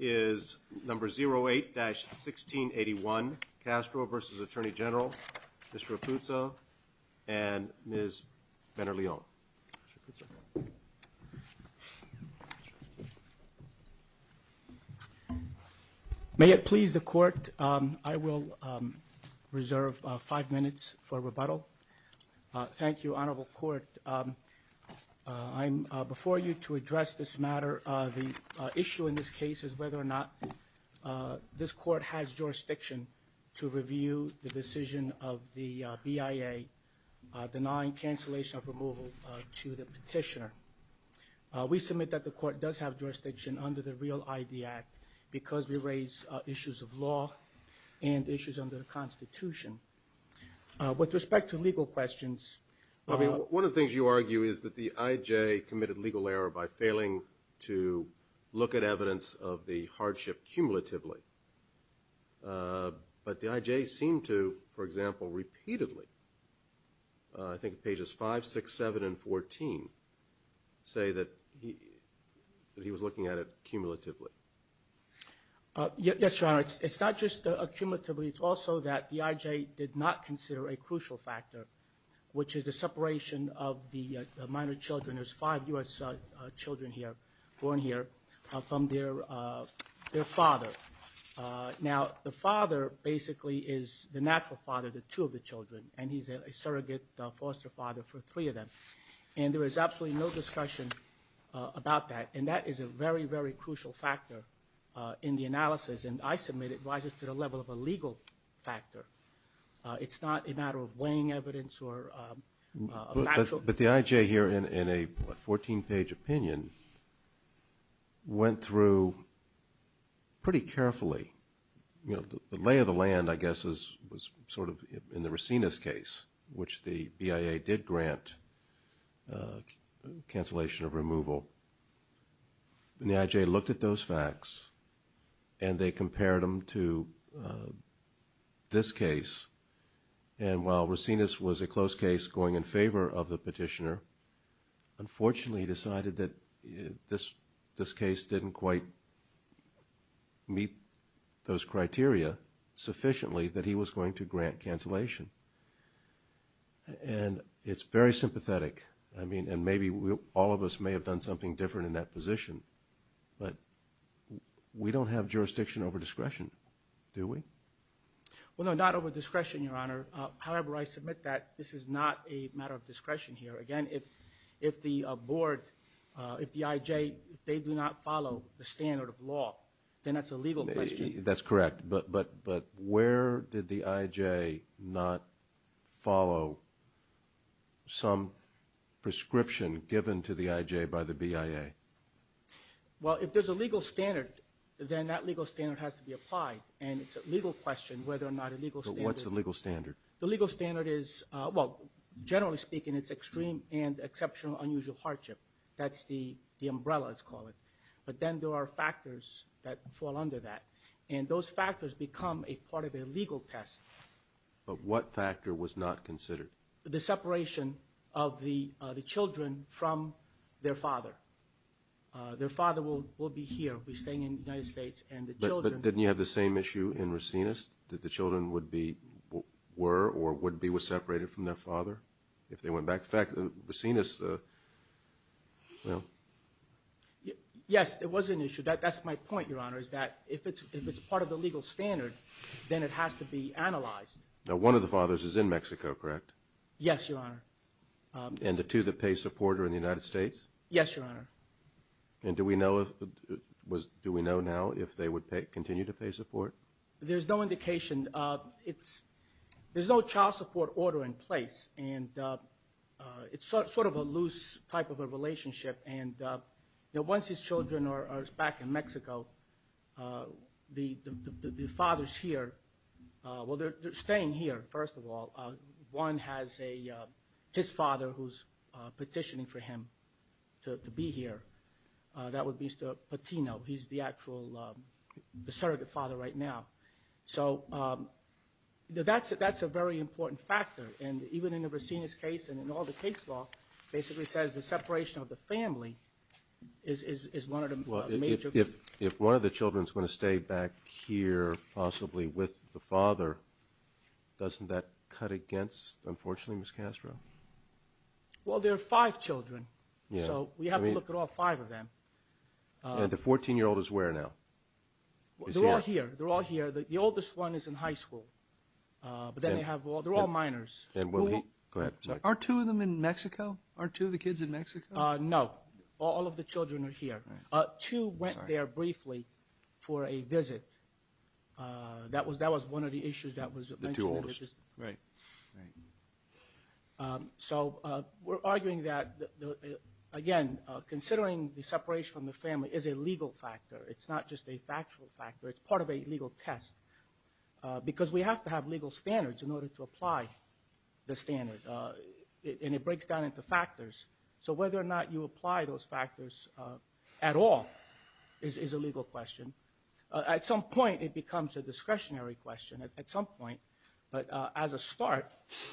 is number 08-1681, Castro versus Attorney General. Mr. Rapuzzo and Ms. Benerleon. May it please the court, I will reserve five minutes for rebuttal. Thank you, Honorable Court. Before you to address this matter, the issue in this case is whether or not this court has jurisdiction to review the decision of the BIA denying cancellation of removal to the petitioner. We submit that the court does have jurisdiction under the REAL-ID Act because we raise issues of law and issues under the Constitution. With respect to legal questions, I mean, one of the things you argue is that the IJ committed legal error by failing to look at evidence of the hardship cumulatively. But the IJ seemed to, for example, repeatedly, I think pages 5, 6, 7, and 14, say that he was looking at it cumulatively. Yes, Your Honor, it's not just cumulatively, it's also that the IJ did not consider a crucial factor, which is the separation of the minor children. There's five U.S. children here, born here, from their father. Now, the father basically is the natural father to two of the children, and he's a surrogate foster father for three of them. And there is absolutely no discussion about that, and that is a very, very crucial factor in the analysis, and I submit it rises to the level of a legal factor. It's not a matter of weighing evidence or a natural... But the IJ here, in a 14-page opinion, went through pretty carefully. You know, the lay of the land, I guess, was sort of in the Racinas case, which the BIA did grant cancellation of removal. And the IJ looked at those facts, and they compared them to this case, and while Racinas was a close case going in favor of the petitioner, unfortunately decided that this case didn't quite meet those criteria sufficiently that he was going to grant cancellation. And it's very sympathetic. I mean, and maybe all of us may have done something different in that position, but we don't have jurisdiction over discretion, do we? Well, no, not over discretion, Your Honor. However, I submit that this is not a matter of discretion here. Again, if the board, if the IJ, they do not follow the standard of law, then that's a legal question. That's correct, but where did the IJ not follow some prescription given to the IJ by the BIA? Well, if there's a legal standard, then that legal standard has to be applied, and it's a legal question whether or not a legal standard... But what's the legal standard? The legal standard is, well, generally speaking, it's extreme and exceptional unusual hardship. That's the umbrella, let's call it. But then there are factors that fall under that, and those factors become a part of a legal test. But what factor was not considered? The separation of the children from their father. Their father will be here, will be staying in the United States, and the children... But didn't you have the same issue in Racinus, that the children would be, were, or would be separated from their father if they went back? In fact, Racinus, well... Yes, there was an issue. That's my point, Your Honor, is that if it's part of the legal standard, then it has to be analyzed. Now, one of the fathers is in Mexico, correct? Yes, Your Honor. And the two that pay support are in the United States? Yes, Your Honor. And do we know if, do we know now if they would continue to pay support? There's no indication. It's, there's no child support order in place, and it's sort of a loose type of a relationship. And, you know, once his children are back in Mexico, the father's here. Well, they're staying here, first of all. One has a, his father who's petitioning for him to be here. That would be Mr. Patino. He's the actual, the surrogate father right now. So, that's a very important factor. And even in the Racinus case, and in all the case law, basically says the separation of the family is one of the major... Well, if one of the children's going to stay back here, possibly with the father, doesn't that cut against, unfortunately, Ms. Castro? Well, there are five children. So, we have to look at all five of them. And the 14-year-old is where now? They're all here. They're all here. The oldest one is in high school. But then they have all, they're all minors. Go ahead. So, are two of them in Mexico? Are two of the kids in Mexico? No. All of the children are here. Two went there briefly for a visit. That was one of the issues that was mentioned. The two oldest. Right. Right. So, we're arguing that, again, considering the separation from the family is a legal factor. It's not just a factual factor. It's part of a legal test. Because we have to have legal standards in order to apply the standard. And it breaks down into factors. So, whether or not you apply those factors at all is a legal question. At some point, it becomes a discretionary question. At some point. But as a start,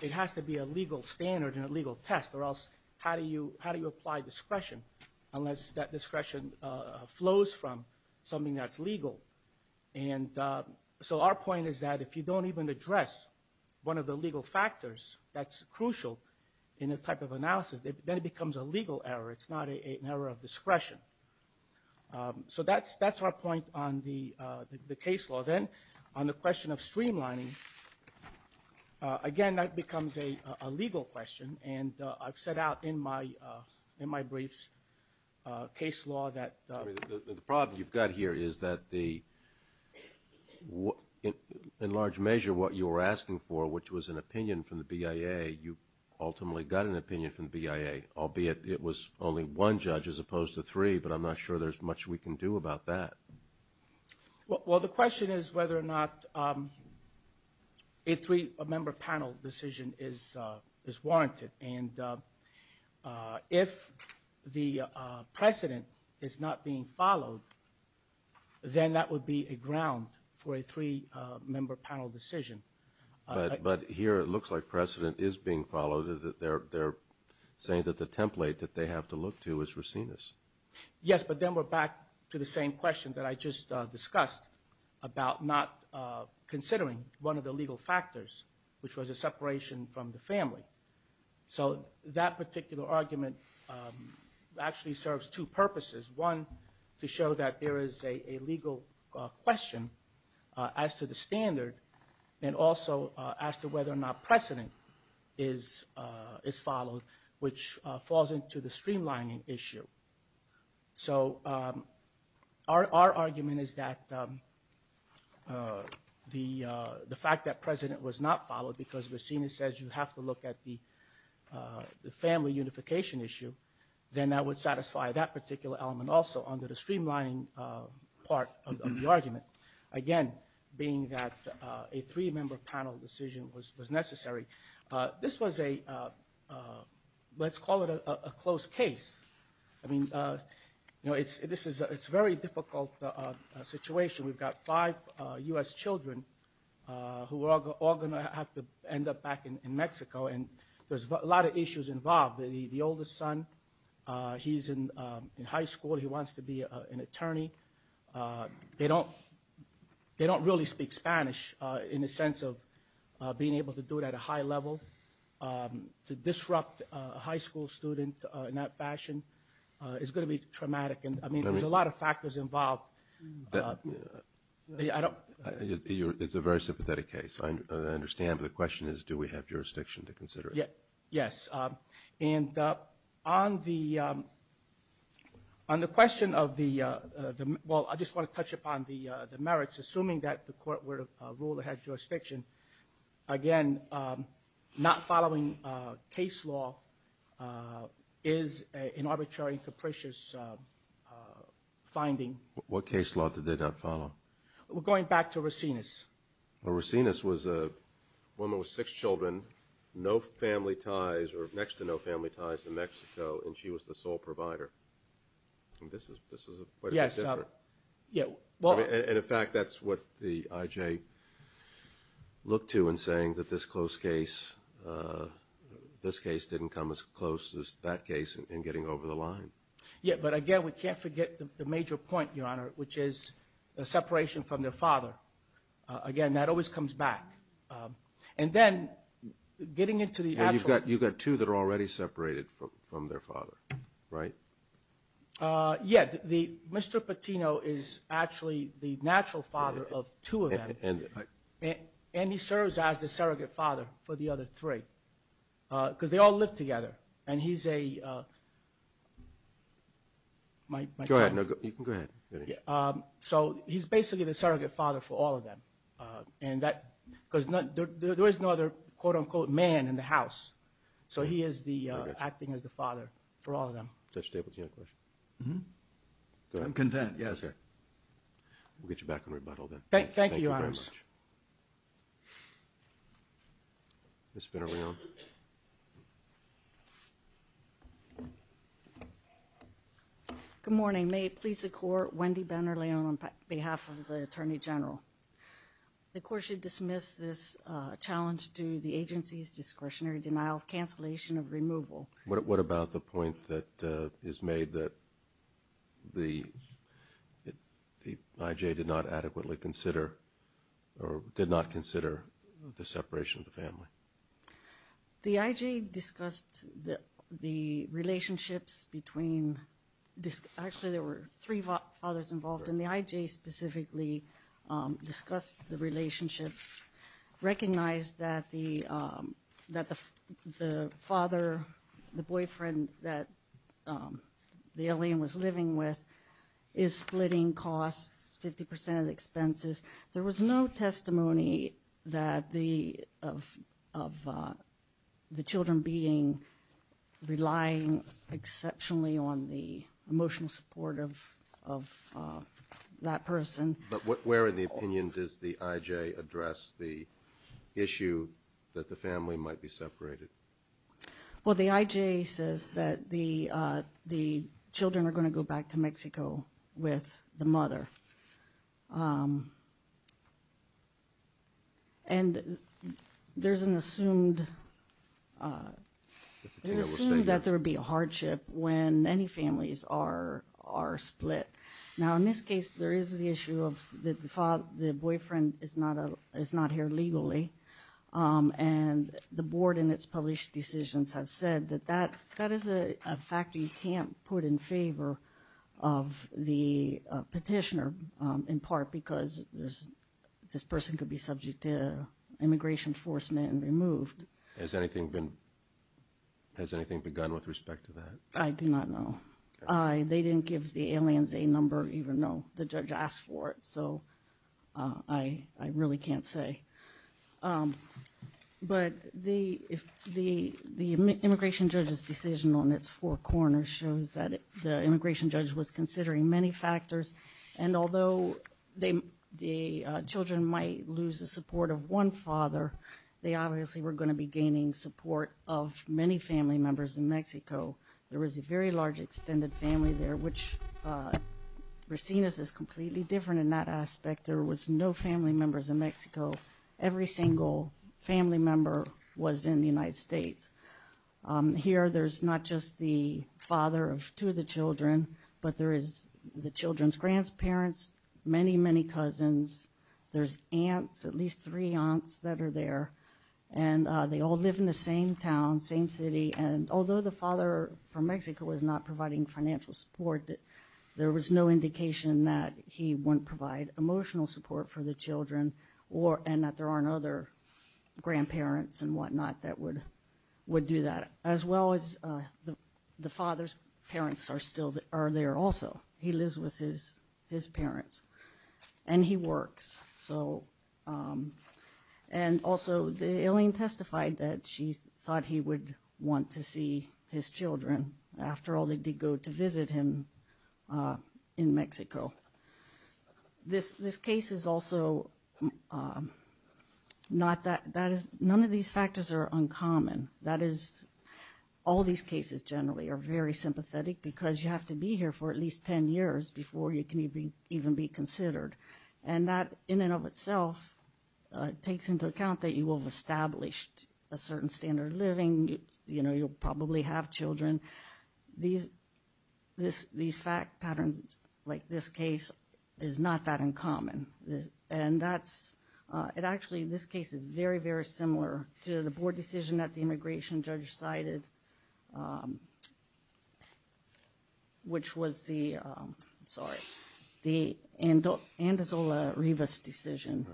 it has to be a legal standard and a legal test. Or else, how do you apply discretion unless that discretion flows from something that's legal? And so, our point is that if you don't even address one of the legal factors that's crucial in a type of analysis, then it becomes a legal error. It's not an error of discretion. So, that's our point on the case law. Then, on the question of streamlining, again, that becomes a legal question. And I've set out in my briefs, case law, that the problem you've got here is that the, in large measure, what you were asking for, which was an opinion from the BIA, you ultimately got an opinion from the BIA. Albeit, it was only one judge as opposed to three. But I'm not sure there's much we can do about that. Well, the question is whether or not a three-member panel decision is warranted. And if the precedent is not being followed, then that would be a ground for a three-member panel decision. But here, it looks like precedent is being followed. They're saying that the template that they have to look to is racinus. Yes, but then we're back to the same question that I just discussed about not considering one of the family. So, that particular argument actually serves two purposes. One, to show that there is a legal question as to the standard, and also as to whether or not precedent is followed, which falls into the streamlining issue. So, our argument is that the fact that precedent was not followed because racinus says you have to look at the family unification issue, then that would satisfy that particular element also under the streamlining part of the argument. Again, being that a three-member panel decision was necessary. This was a, let's call it a close case. I mean, you know, it's a very difficult situation. We've got five U.S. children who are all going to have to end up back in Mexico, and there's a lot of issues involved. The oldest son, he's in high school. He wants to be an attorney. They don't really speak Spanish in the sense of being able to do it at a high level. To disrupt a high school student in that fashion is going to be traumatic. I mean, there's a lot of factors involved. I don't... It's a very sympathetic case. I understand, but the question is, do we have jurisdiction to consider it? Yes. And on the question of the, well, I just want to touch upon the merits, assuming that the court were to rule it had jurisdiction. Again, not following case law is an arbitrary and capricious finding. What case law did they not follow? We're going back to Rosinas. Well, Rosinas was a woman with six children, no family ties, or next to no family ties in Mexico, and she was the sole provider. This is quite a bit different. Yes. I mean, and in fact, that's what the IJ looked to in saying that this close case, this case didn't come as close as that case in getting over the line. Yes, but again, we can't forget the major point, Your Honor, which is the separation from their father. Again, that always comes back. And then getting into the actual... Yes, you've got two that are already separated from their father, right? Yes, Mr. Patino is actually the natural father of two of them, and he serves as the surrogate father for the other three, because they all live together, and he's a... Go ahead. You can go ahead. So he's basically the surrogate father for all of them, because there is no other quote-unquote man in the house, so he is acting as the father for all of them. I'm content, yes. We'll get you back on rebuttal then. Thank you, Your Honor. Thank you very much. Ms. Ben-Irion. Good morning. May it please the Court, Wendy Ben-Irion on behalf of the Attorney General. The Court should dismiss this challenge due to the agency's discretionary denial of cancellation of removal. What about the point that is made that the I.J. did not adequately consider, or did not consider, the separation of the family? The I.J. discussed the relationships between... Actually, there were three fathers involved, and the I.J. specifically discussed the relationships, recognized that the father, the boyfriend that the alien was living with, is splitting costs, 50 percent of the expenses. There was no testimony of the children relying exceptionally on the emotional support of that person. But where in the opinion does the I.J. address the issue that the family might be separated? Well, the I.J. says that the children are going to go back to Mexico with the mother. And there's an assumed... It's assumed that there would be a hardship when any families are split. Now, in this case, there is the issue of the boyfriend is not here legally, and the board in its published decisions have said that that is a fact that you can't put in favor of the petitioner, in part because this person could be subject to immigration enforcement and removed. Has anything begun with respect to that? I do not know. They didn't give the aliens a number, even though the judge asked for it. So I really can't say. But the immigration judge's decision on its four corners shows that the immigration judge was considering many factors. And although the children might lose the support of one father, they obviously were going to be gaining support of many family members in Mexico. There was a very large extended family there, which we're seeing this as completely different in that aspect. There was no family members in Mexico. Every single family member was in the United States. Here, there's not just the father of two of the children, but there is the children's grandparents, many, many cousins. There's aunts, at least three aunts that are there, and they all live in the same town, same city. And although the father from Mexico was not providing financial support, there was no provide emotional support for the children, and that there aren't other grandparents and whatnot that would do that. As well as the father's parents are there also. He lives with his parents. And he works. And also, the alien testified that she thought he would want to see his children. After all, they did go to visit him in Mexico. This case is also not that, that is, none of these factors are uncommon. That is, all these cases generally are very sympathetic because you have to be here for at least 10 years before you can even be considered. And that, in and of itself, takes into account that you will have established a certain standard of living. You know, you'll probably have children. These fact patterns, like this case, is not that uncommon. And that's, it actually, this case is very, very similar to the board decision that the immigration judge cited, which was the, sorry, the Andozola-Rivas decision.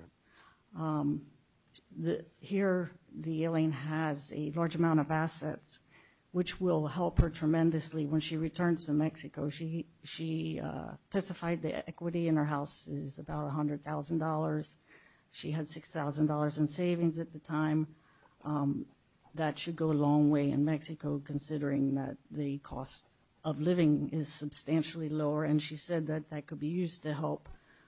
Here, the alien has a large amount of assets, which will help her tremendously when she returns to Mexico. She testified the equity in her house is about $100,000. She had $6,000 in savings at the time. That should go a long way in Mexico considering that the cost of living is substantially lower. And she said that that could be used to help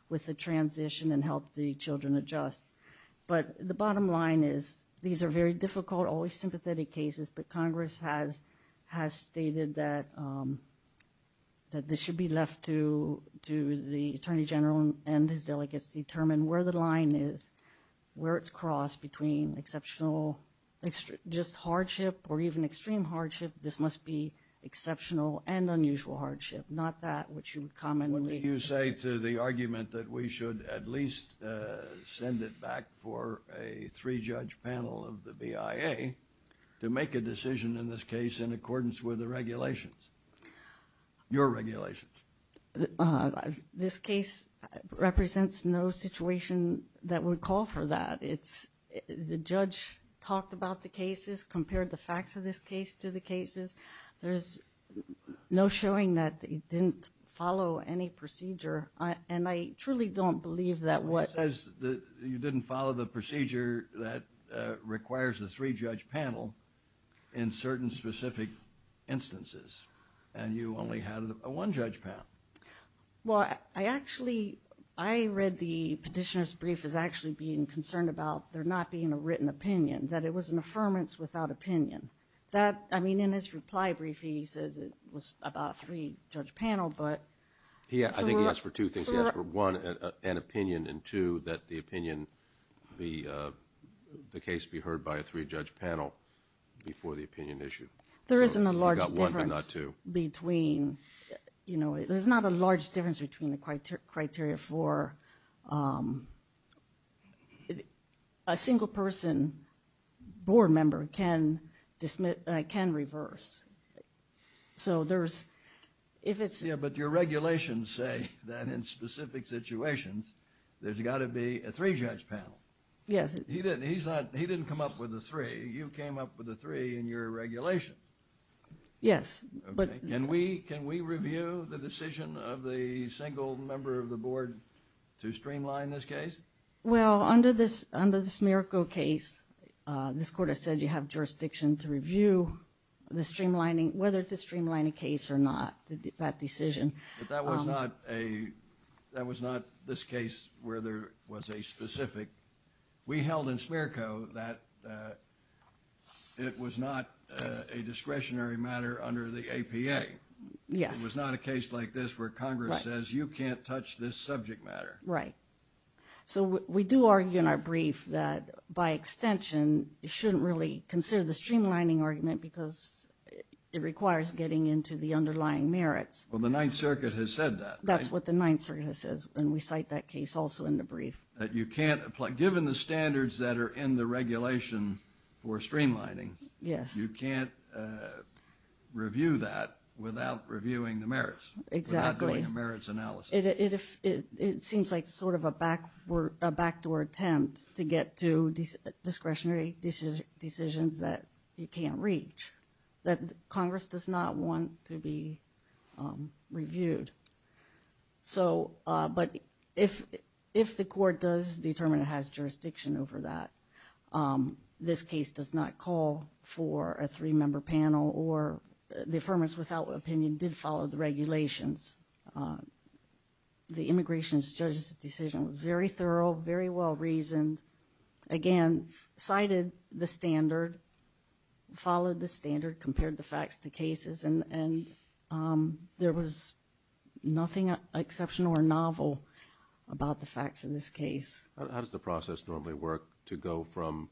with the transition and help the children adjust. But the bottom line is these are very difficult, always sympathetic cases. But Congress has stated that this should be left to the Attorney General and his delegates to determine where the line is, where it's crossed between exceptional, just hardship or even extreme hardship. This must be exceptional and unusual hardship. Not that, which you would comment. What do you say to the argument that we should at least send it back for a three-judge panel of the BIA to make a decision in this case in accordance with the regulations, your regulations? This case represents no situation that would call for that. It's, the judge talked about the cases, compared the facts of this case to the cases. There's no showing that they didn't follow any procedure. And I truly don't believe that what- It says that you didn't follow the procedure that requires a three-judge panel in certain specific instances. And you only had a one-judge panel. Well, I actually, I read the petitioner's brief as actually being concerned about there not being a written opinion, that it was an affirmance without opinion. That, I mean, in his reply brief, he says it was about a three-judge panel, but- Yeah, I think he asked for two things. He asked for one, an opinion, and two, that the opinion, the case be heard by a three-judge panel before the opinion issue. There isn't a large difference between, you know, there's not a large difference between the criteria for, a single person board member can reverse. So, there's, if it's- Yeah, but your regulations say that in specific situations, there's got to be a three-judge panel. Yes. He didn't come up with a three. You came up with a three in your regulation. Yes, but- Can we review the decision of the single member of the board to streamline this case? Well, under the Smirko case, this court has said you have jurisdiction to review the streamlining, whether to streamline a case or not, that decision. But that was not a, that was not this case where there was a specific, we held in Smirko that it was not a discretionary matter under the APA. Yes. It was not a case like this where Congress says you can't touch this subject matter. Right. So, we do argue in our brief that, by extension, you shouldn't really consider the streamlining argument because it requires getting into the underlying merits. Well, the Ninth Circuit has said that, right? That's what the Ninth Circuit has said, and we cite that case also in the brief. That you can't apply, given the standards that are in the regulation for streamlining- Yes. You can't review that without reviewing the merits. Exactly. Without doing a merits analysis. It seems like sort of a backdoor attempt to get to discretionary decisions that you can't reach, that Congress does not want to be reviewed. So, but if the court does determine it has jurisdiction over that, this case does not call for a three-member panel, or the affirmance without opinion did follow the regulations. The immigration judge's decision was very thorough, very well-reasoned. Again, cited the standard, followed the standard, compared the facts to cases, and there was nothing exceptional or novel about the facts in this case. How does the process normally work to go from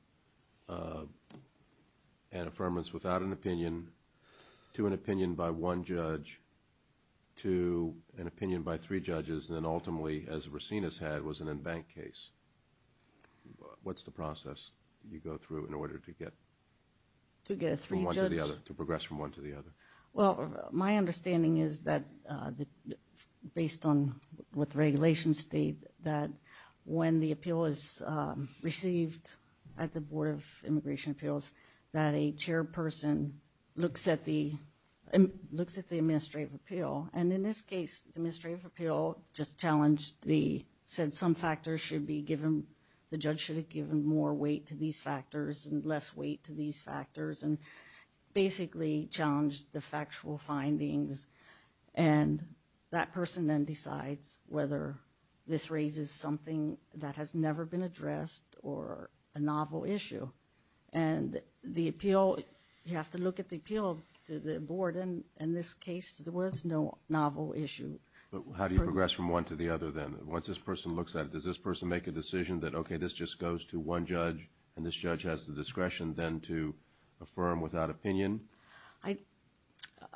an affirmance without an opinion to an opinion by one judge to an opinion by three judges, and then ultimately, as Racine has had, was an embanked case? What's the process you go through in order to get- To get a three-judge- From one to the other, to progress from one to the other? Well, my understanding is that, based on what the regulations state, that when the appeal is received at the Board of Immigration Appeals, that a chairperson looks at the administrative appeal. And in this case, the administrative appeal just challenged the- said some factors should be given- the judge should have given more weight to these factors and less weight to these factors, and basically challenged the factual findings. And that person then decides whether this raises something that has never been addressed or a novel issue. And the appeal, you have to look at the appeal to the board, and in this case, there was no novel issue. But how do you progress from one to the other then? Once this person looks at it, does this person make a decision that, okay, this just goes to one judge, and this judge has the discretion then to affirm without opinion?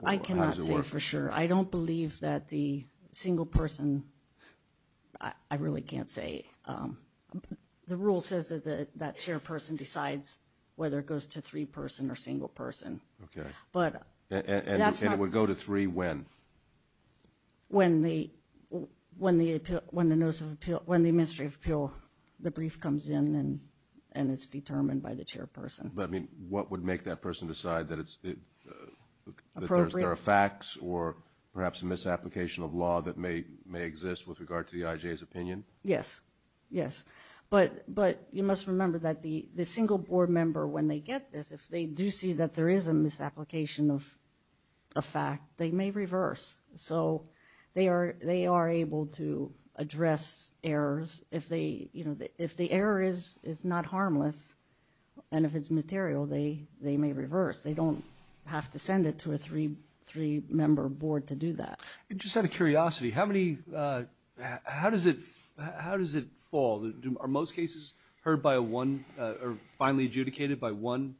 I cannot say for sure. I don't believe that the single person-I really can't say. The rule says that that chairperson decides whether it goes to three-person or single-person. Okay. But that's not- And it would go to three when? When the administrative appeal, the brief comes in and it's determined by the chairperson. But, I mean, what would make that person decide that there are facts or perhaps a misapplication of law that may exist with regard to the IJ's opinion? Yes, yes. But you must remember that the single board member, when they get this, if they do see that there is a misapplication of a fact, they may reverse. So they are able to address errors. If the error is not harmless and if it's material, they may reverse. They don't have to send it to a three-member board to do that. Just out of curiosity, how does it fall? Are most cases heard by one or finally adjudicated by one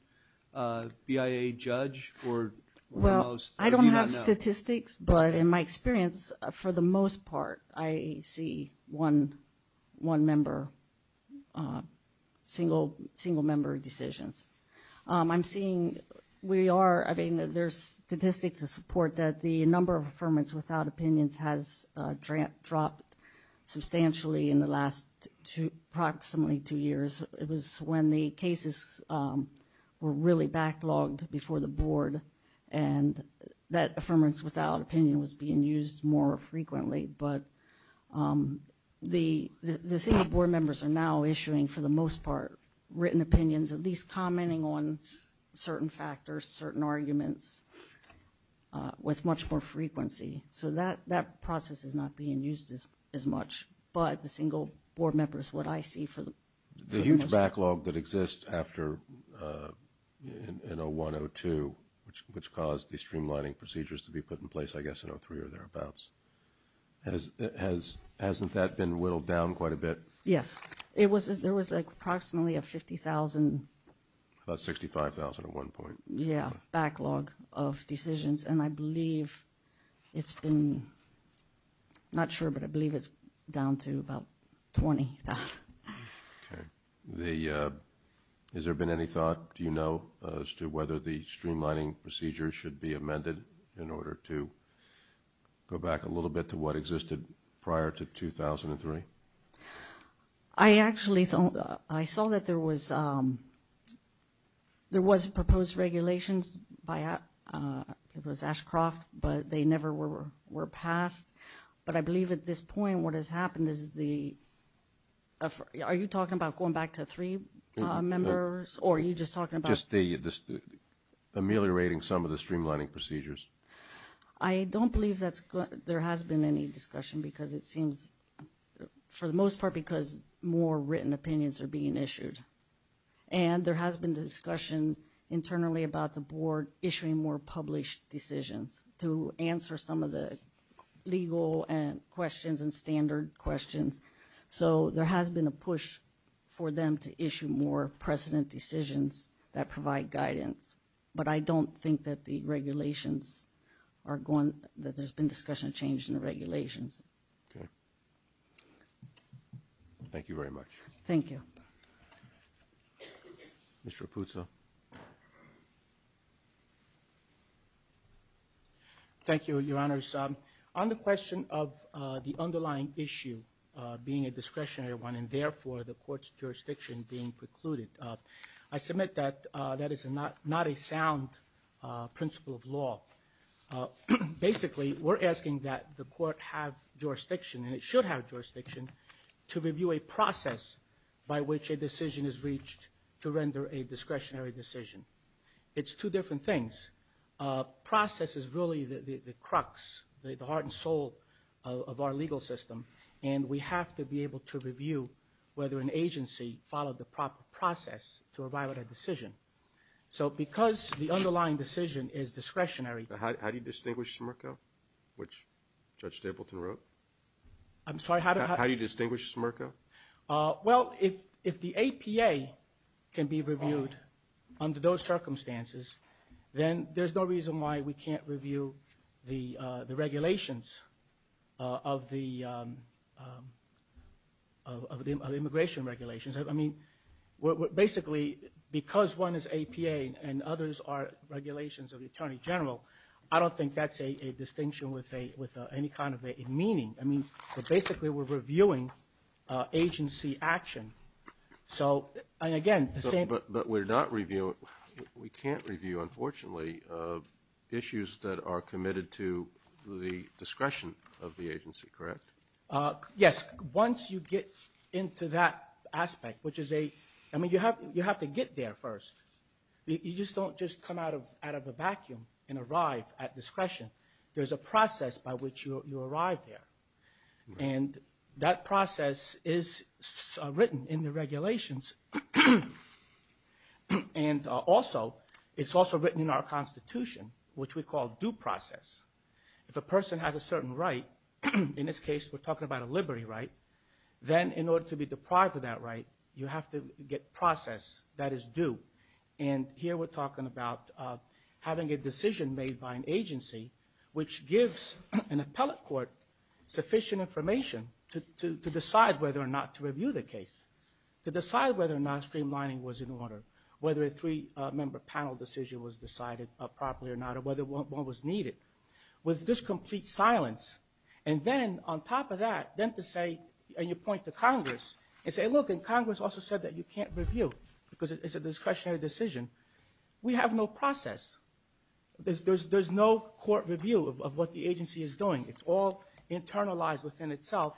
BIA judge or most? Well, I don't have statistics, but in my experience, for the most part, I see one-member, single-member decisions. I'm seeing we are-I mean, there's statistics to support that the number of affirmants without opinions has dropped substantially in the last approximately two years. It was when the cases were really backlogged before the board and that affirmants without opinion was being used more frequently. But the single board members are now issuing, for the most part, written opinions, at least commenting on certain factors, certain arguments with much more frequency. So that process is not being used as much, but the single board member is what I see. The huge backlog that exists after 01, 02, which caused the streamlining procedures to be put in place, I guess, in 03 or thereabouts, hasn't that been whittled down quite a bit? Yes. There was approximately a 50,000- About 65,000 at one point. Yeah, backlog of decisions. And I believe it's been-I'm not sure, but I believe it's down to about 20,000. Okay. Has there been any thought, do you know, as to whether the streamlining procedures should be amended in order to go back a little bit to what existed prior to 2003? I actually saw that there was proposed regulations by Ashcroft, but they never were passed. But I believe at this point what has happened is the- are you talking about going back to three members, or are you just talking about- ameliorating some of the streamlining procedures? I don't believe there has been any discussion because it seems, for the most part, because more written opinions are being issued. And there has been discussion internally about the board issuing more published decisions to answer some of the legal questions and standard questions. So there has been a push for them to issue more precedent decisions that provide guidance. But I don't think that the regulations are going-that there's been discussion changed in the regulations. Okay. Thank you very much. Thank you. Thank you, Your Honors. On the question of the underlying issue being a discretionary one, and therefore the court's jurisdiction being precluded, I submit that that is not a sound principle of law. Basically, we're asking that the court have jurisdiction, and it should have jurisdiction, to review a process by which a decision is reached to render a discretionary decision. It's two different things. Process is really the crux, the heart and soul of our legal system, and we have to be able to review whether an agency followed the proper process to arrive at a decision. So because the underlying decision is discretionary- How do you distinguish SMRCO, which Judge Stapleton wrote? I'm sorry? How do you distinguish SMRCO? Well, if the APA can be reviewed under those circumstances, then there's no reason why we can't review the regulations of the immigration regulations. I mean, basically, because one is APA and others are regulations of the Attorney General, I don't think that's a distinction with any kind of a meaning. I mean, basically, we're reviewing agency action. So, and again, the same- But we're not reviewing, we can't review, unfortunately, issues that are committed to the discretion of the agency, correct? Yes. Once you get into that aspect, which is a, I mean, you have to get there first. You just don't just come out of a vacuum and arrive at discretion. There's a process by which you arrive there. And that process is written in the regulations. And also, it's also written in our Constitution, which we call due process. If a person has a certain right, in this case, we're talking about a liberty right, then in order to be deprived of that right, you have to get process that is due. And here we're talking about having a decision made by an agency, which gives an appellate court sufficient information to decide whether or not to review the case, to decide whether or not streamlining was in order, whether a three-member panel decision was decided properly or not, or whether one was needed. With this complete silence, and then on top of that, then to say, and you point to Congress, and say, look, and Congress also said that you can't review because it's a discretionary decision. We have no process. There's no court review of what the agency is doing. It's all internalized within itself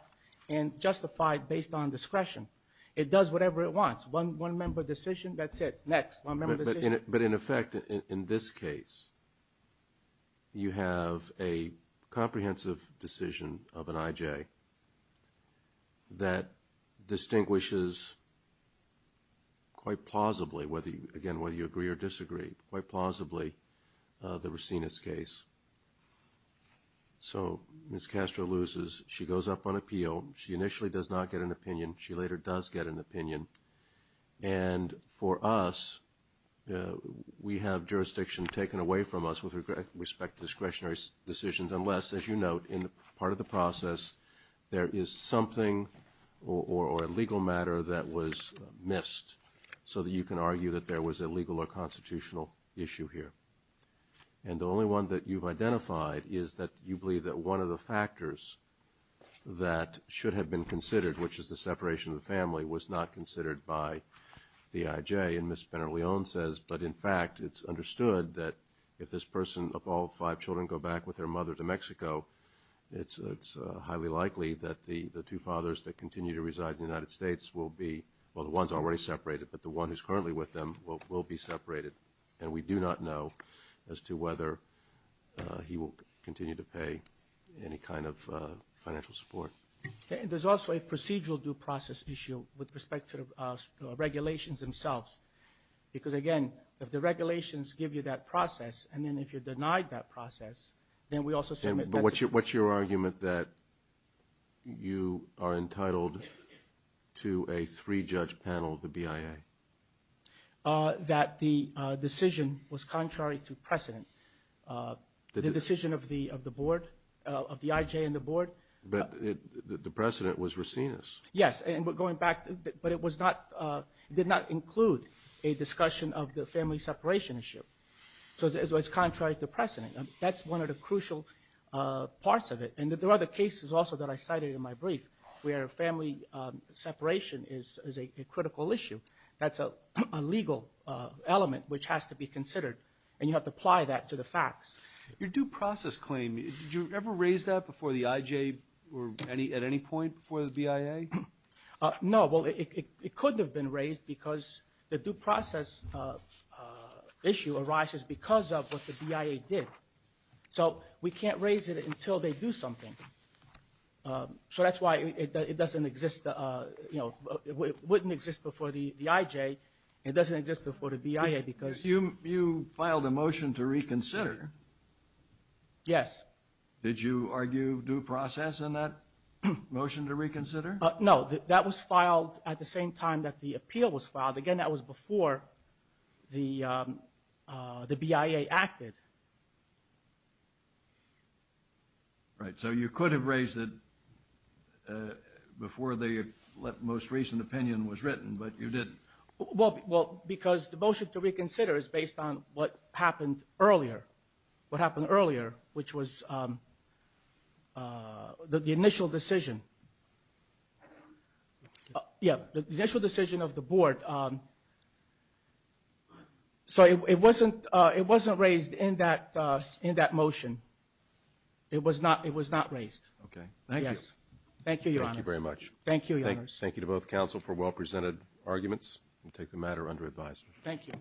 and justified based on discretion. It does whatever it wants. One member decision, that's it. Next, one member decision. But in effect, in this case, you have a comprehensive decision of an IJ that distinguishes quite plausibly, again, whether you agree or disagree, quite plausibly, the Racinus case. So Ms. Castro loses. She goes up on appeal. She initially does not get an opinion. She later does get an opinion. And for us, we have jurisdiction taken away from us with respect to discretionary decisions, unless, as you note, in part of the process there is something or a legal matter that was missed so that you can argue that there was a legal or constitutional issue here. And the only one that you've identified is that you believe that one of the factors that should have been considered, which is the separation of the family, was not considered by the IJ. And Ms. Pena-Leon says, but in fact, it's understood that if this person, of all five children, go back with their mother to Mexico, it's highly likely that the two fathers that continue to reside in the United States will be, well, the one's already separated, but the one who's currently with them will be separated. And we do not know as to whether he will continue to pay any kind of financial support. There's also a procedural due process issue with respect to the regulations themselves. Because, again, if the regulations give you that process, and then if you're denied that process, then we also submit that. But what's your argument that you are entitled to a three-judge panel, the BIA? The decision of the board, of the IJ and the board? But the precedent was Racines. Yes, and going back, but it did not include a discussion of the family separation issue. So it's contrary to precedent. That's one of the crucial parts of it. And there are other cases also that I cited in my brief where family separation is a critical issue. That's a legal element which has to be considered, and you have to apply that to the facts. Your due process claim, did you ever raise that before the IJ or at any point before the BIA? No, well, it couldn't have been raised because the due process issue arises because of what the BIA did. So we can't raise it until they do something. So that's why it doesn't exist, you know, it wouldn't exist before the IJ. It doesn't exist before the BIA because- You filed a motion to reconsider. Yes. Did you argue due process in that motion to reconsider? No, that was filed at the same time that the appeal was filed. Again, that was before the BIA acted. Right, so you could have raised it before the most recent opinion was written, but you didn't. Well, because the motion to reconsider is based on what happened earlier, what happened earlier, which was the initial decision. Yeah, the initial decision of the board. So it wasn't raised in that motion. It was not raised. Okay. Thank you. Thank you, Your Honor. Thank you very much. Thank you, Your Honors. Thank you to both counsel for well-presented arguments. We'll take the matter under advisory. Thank you.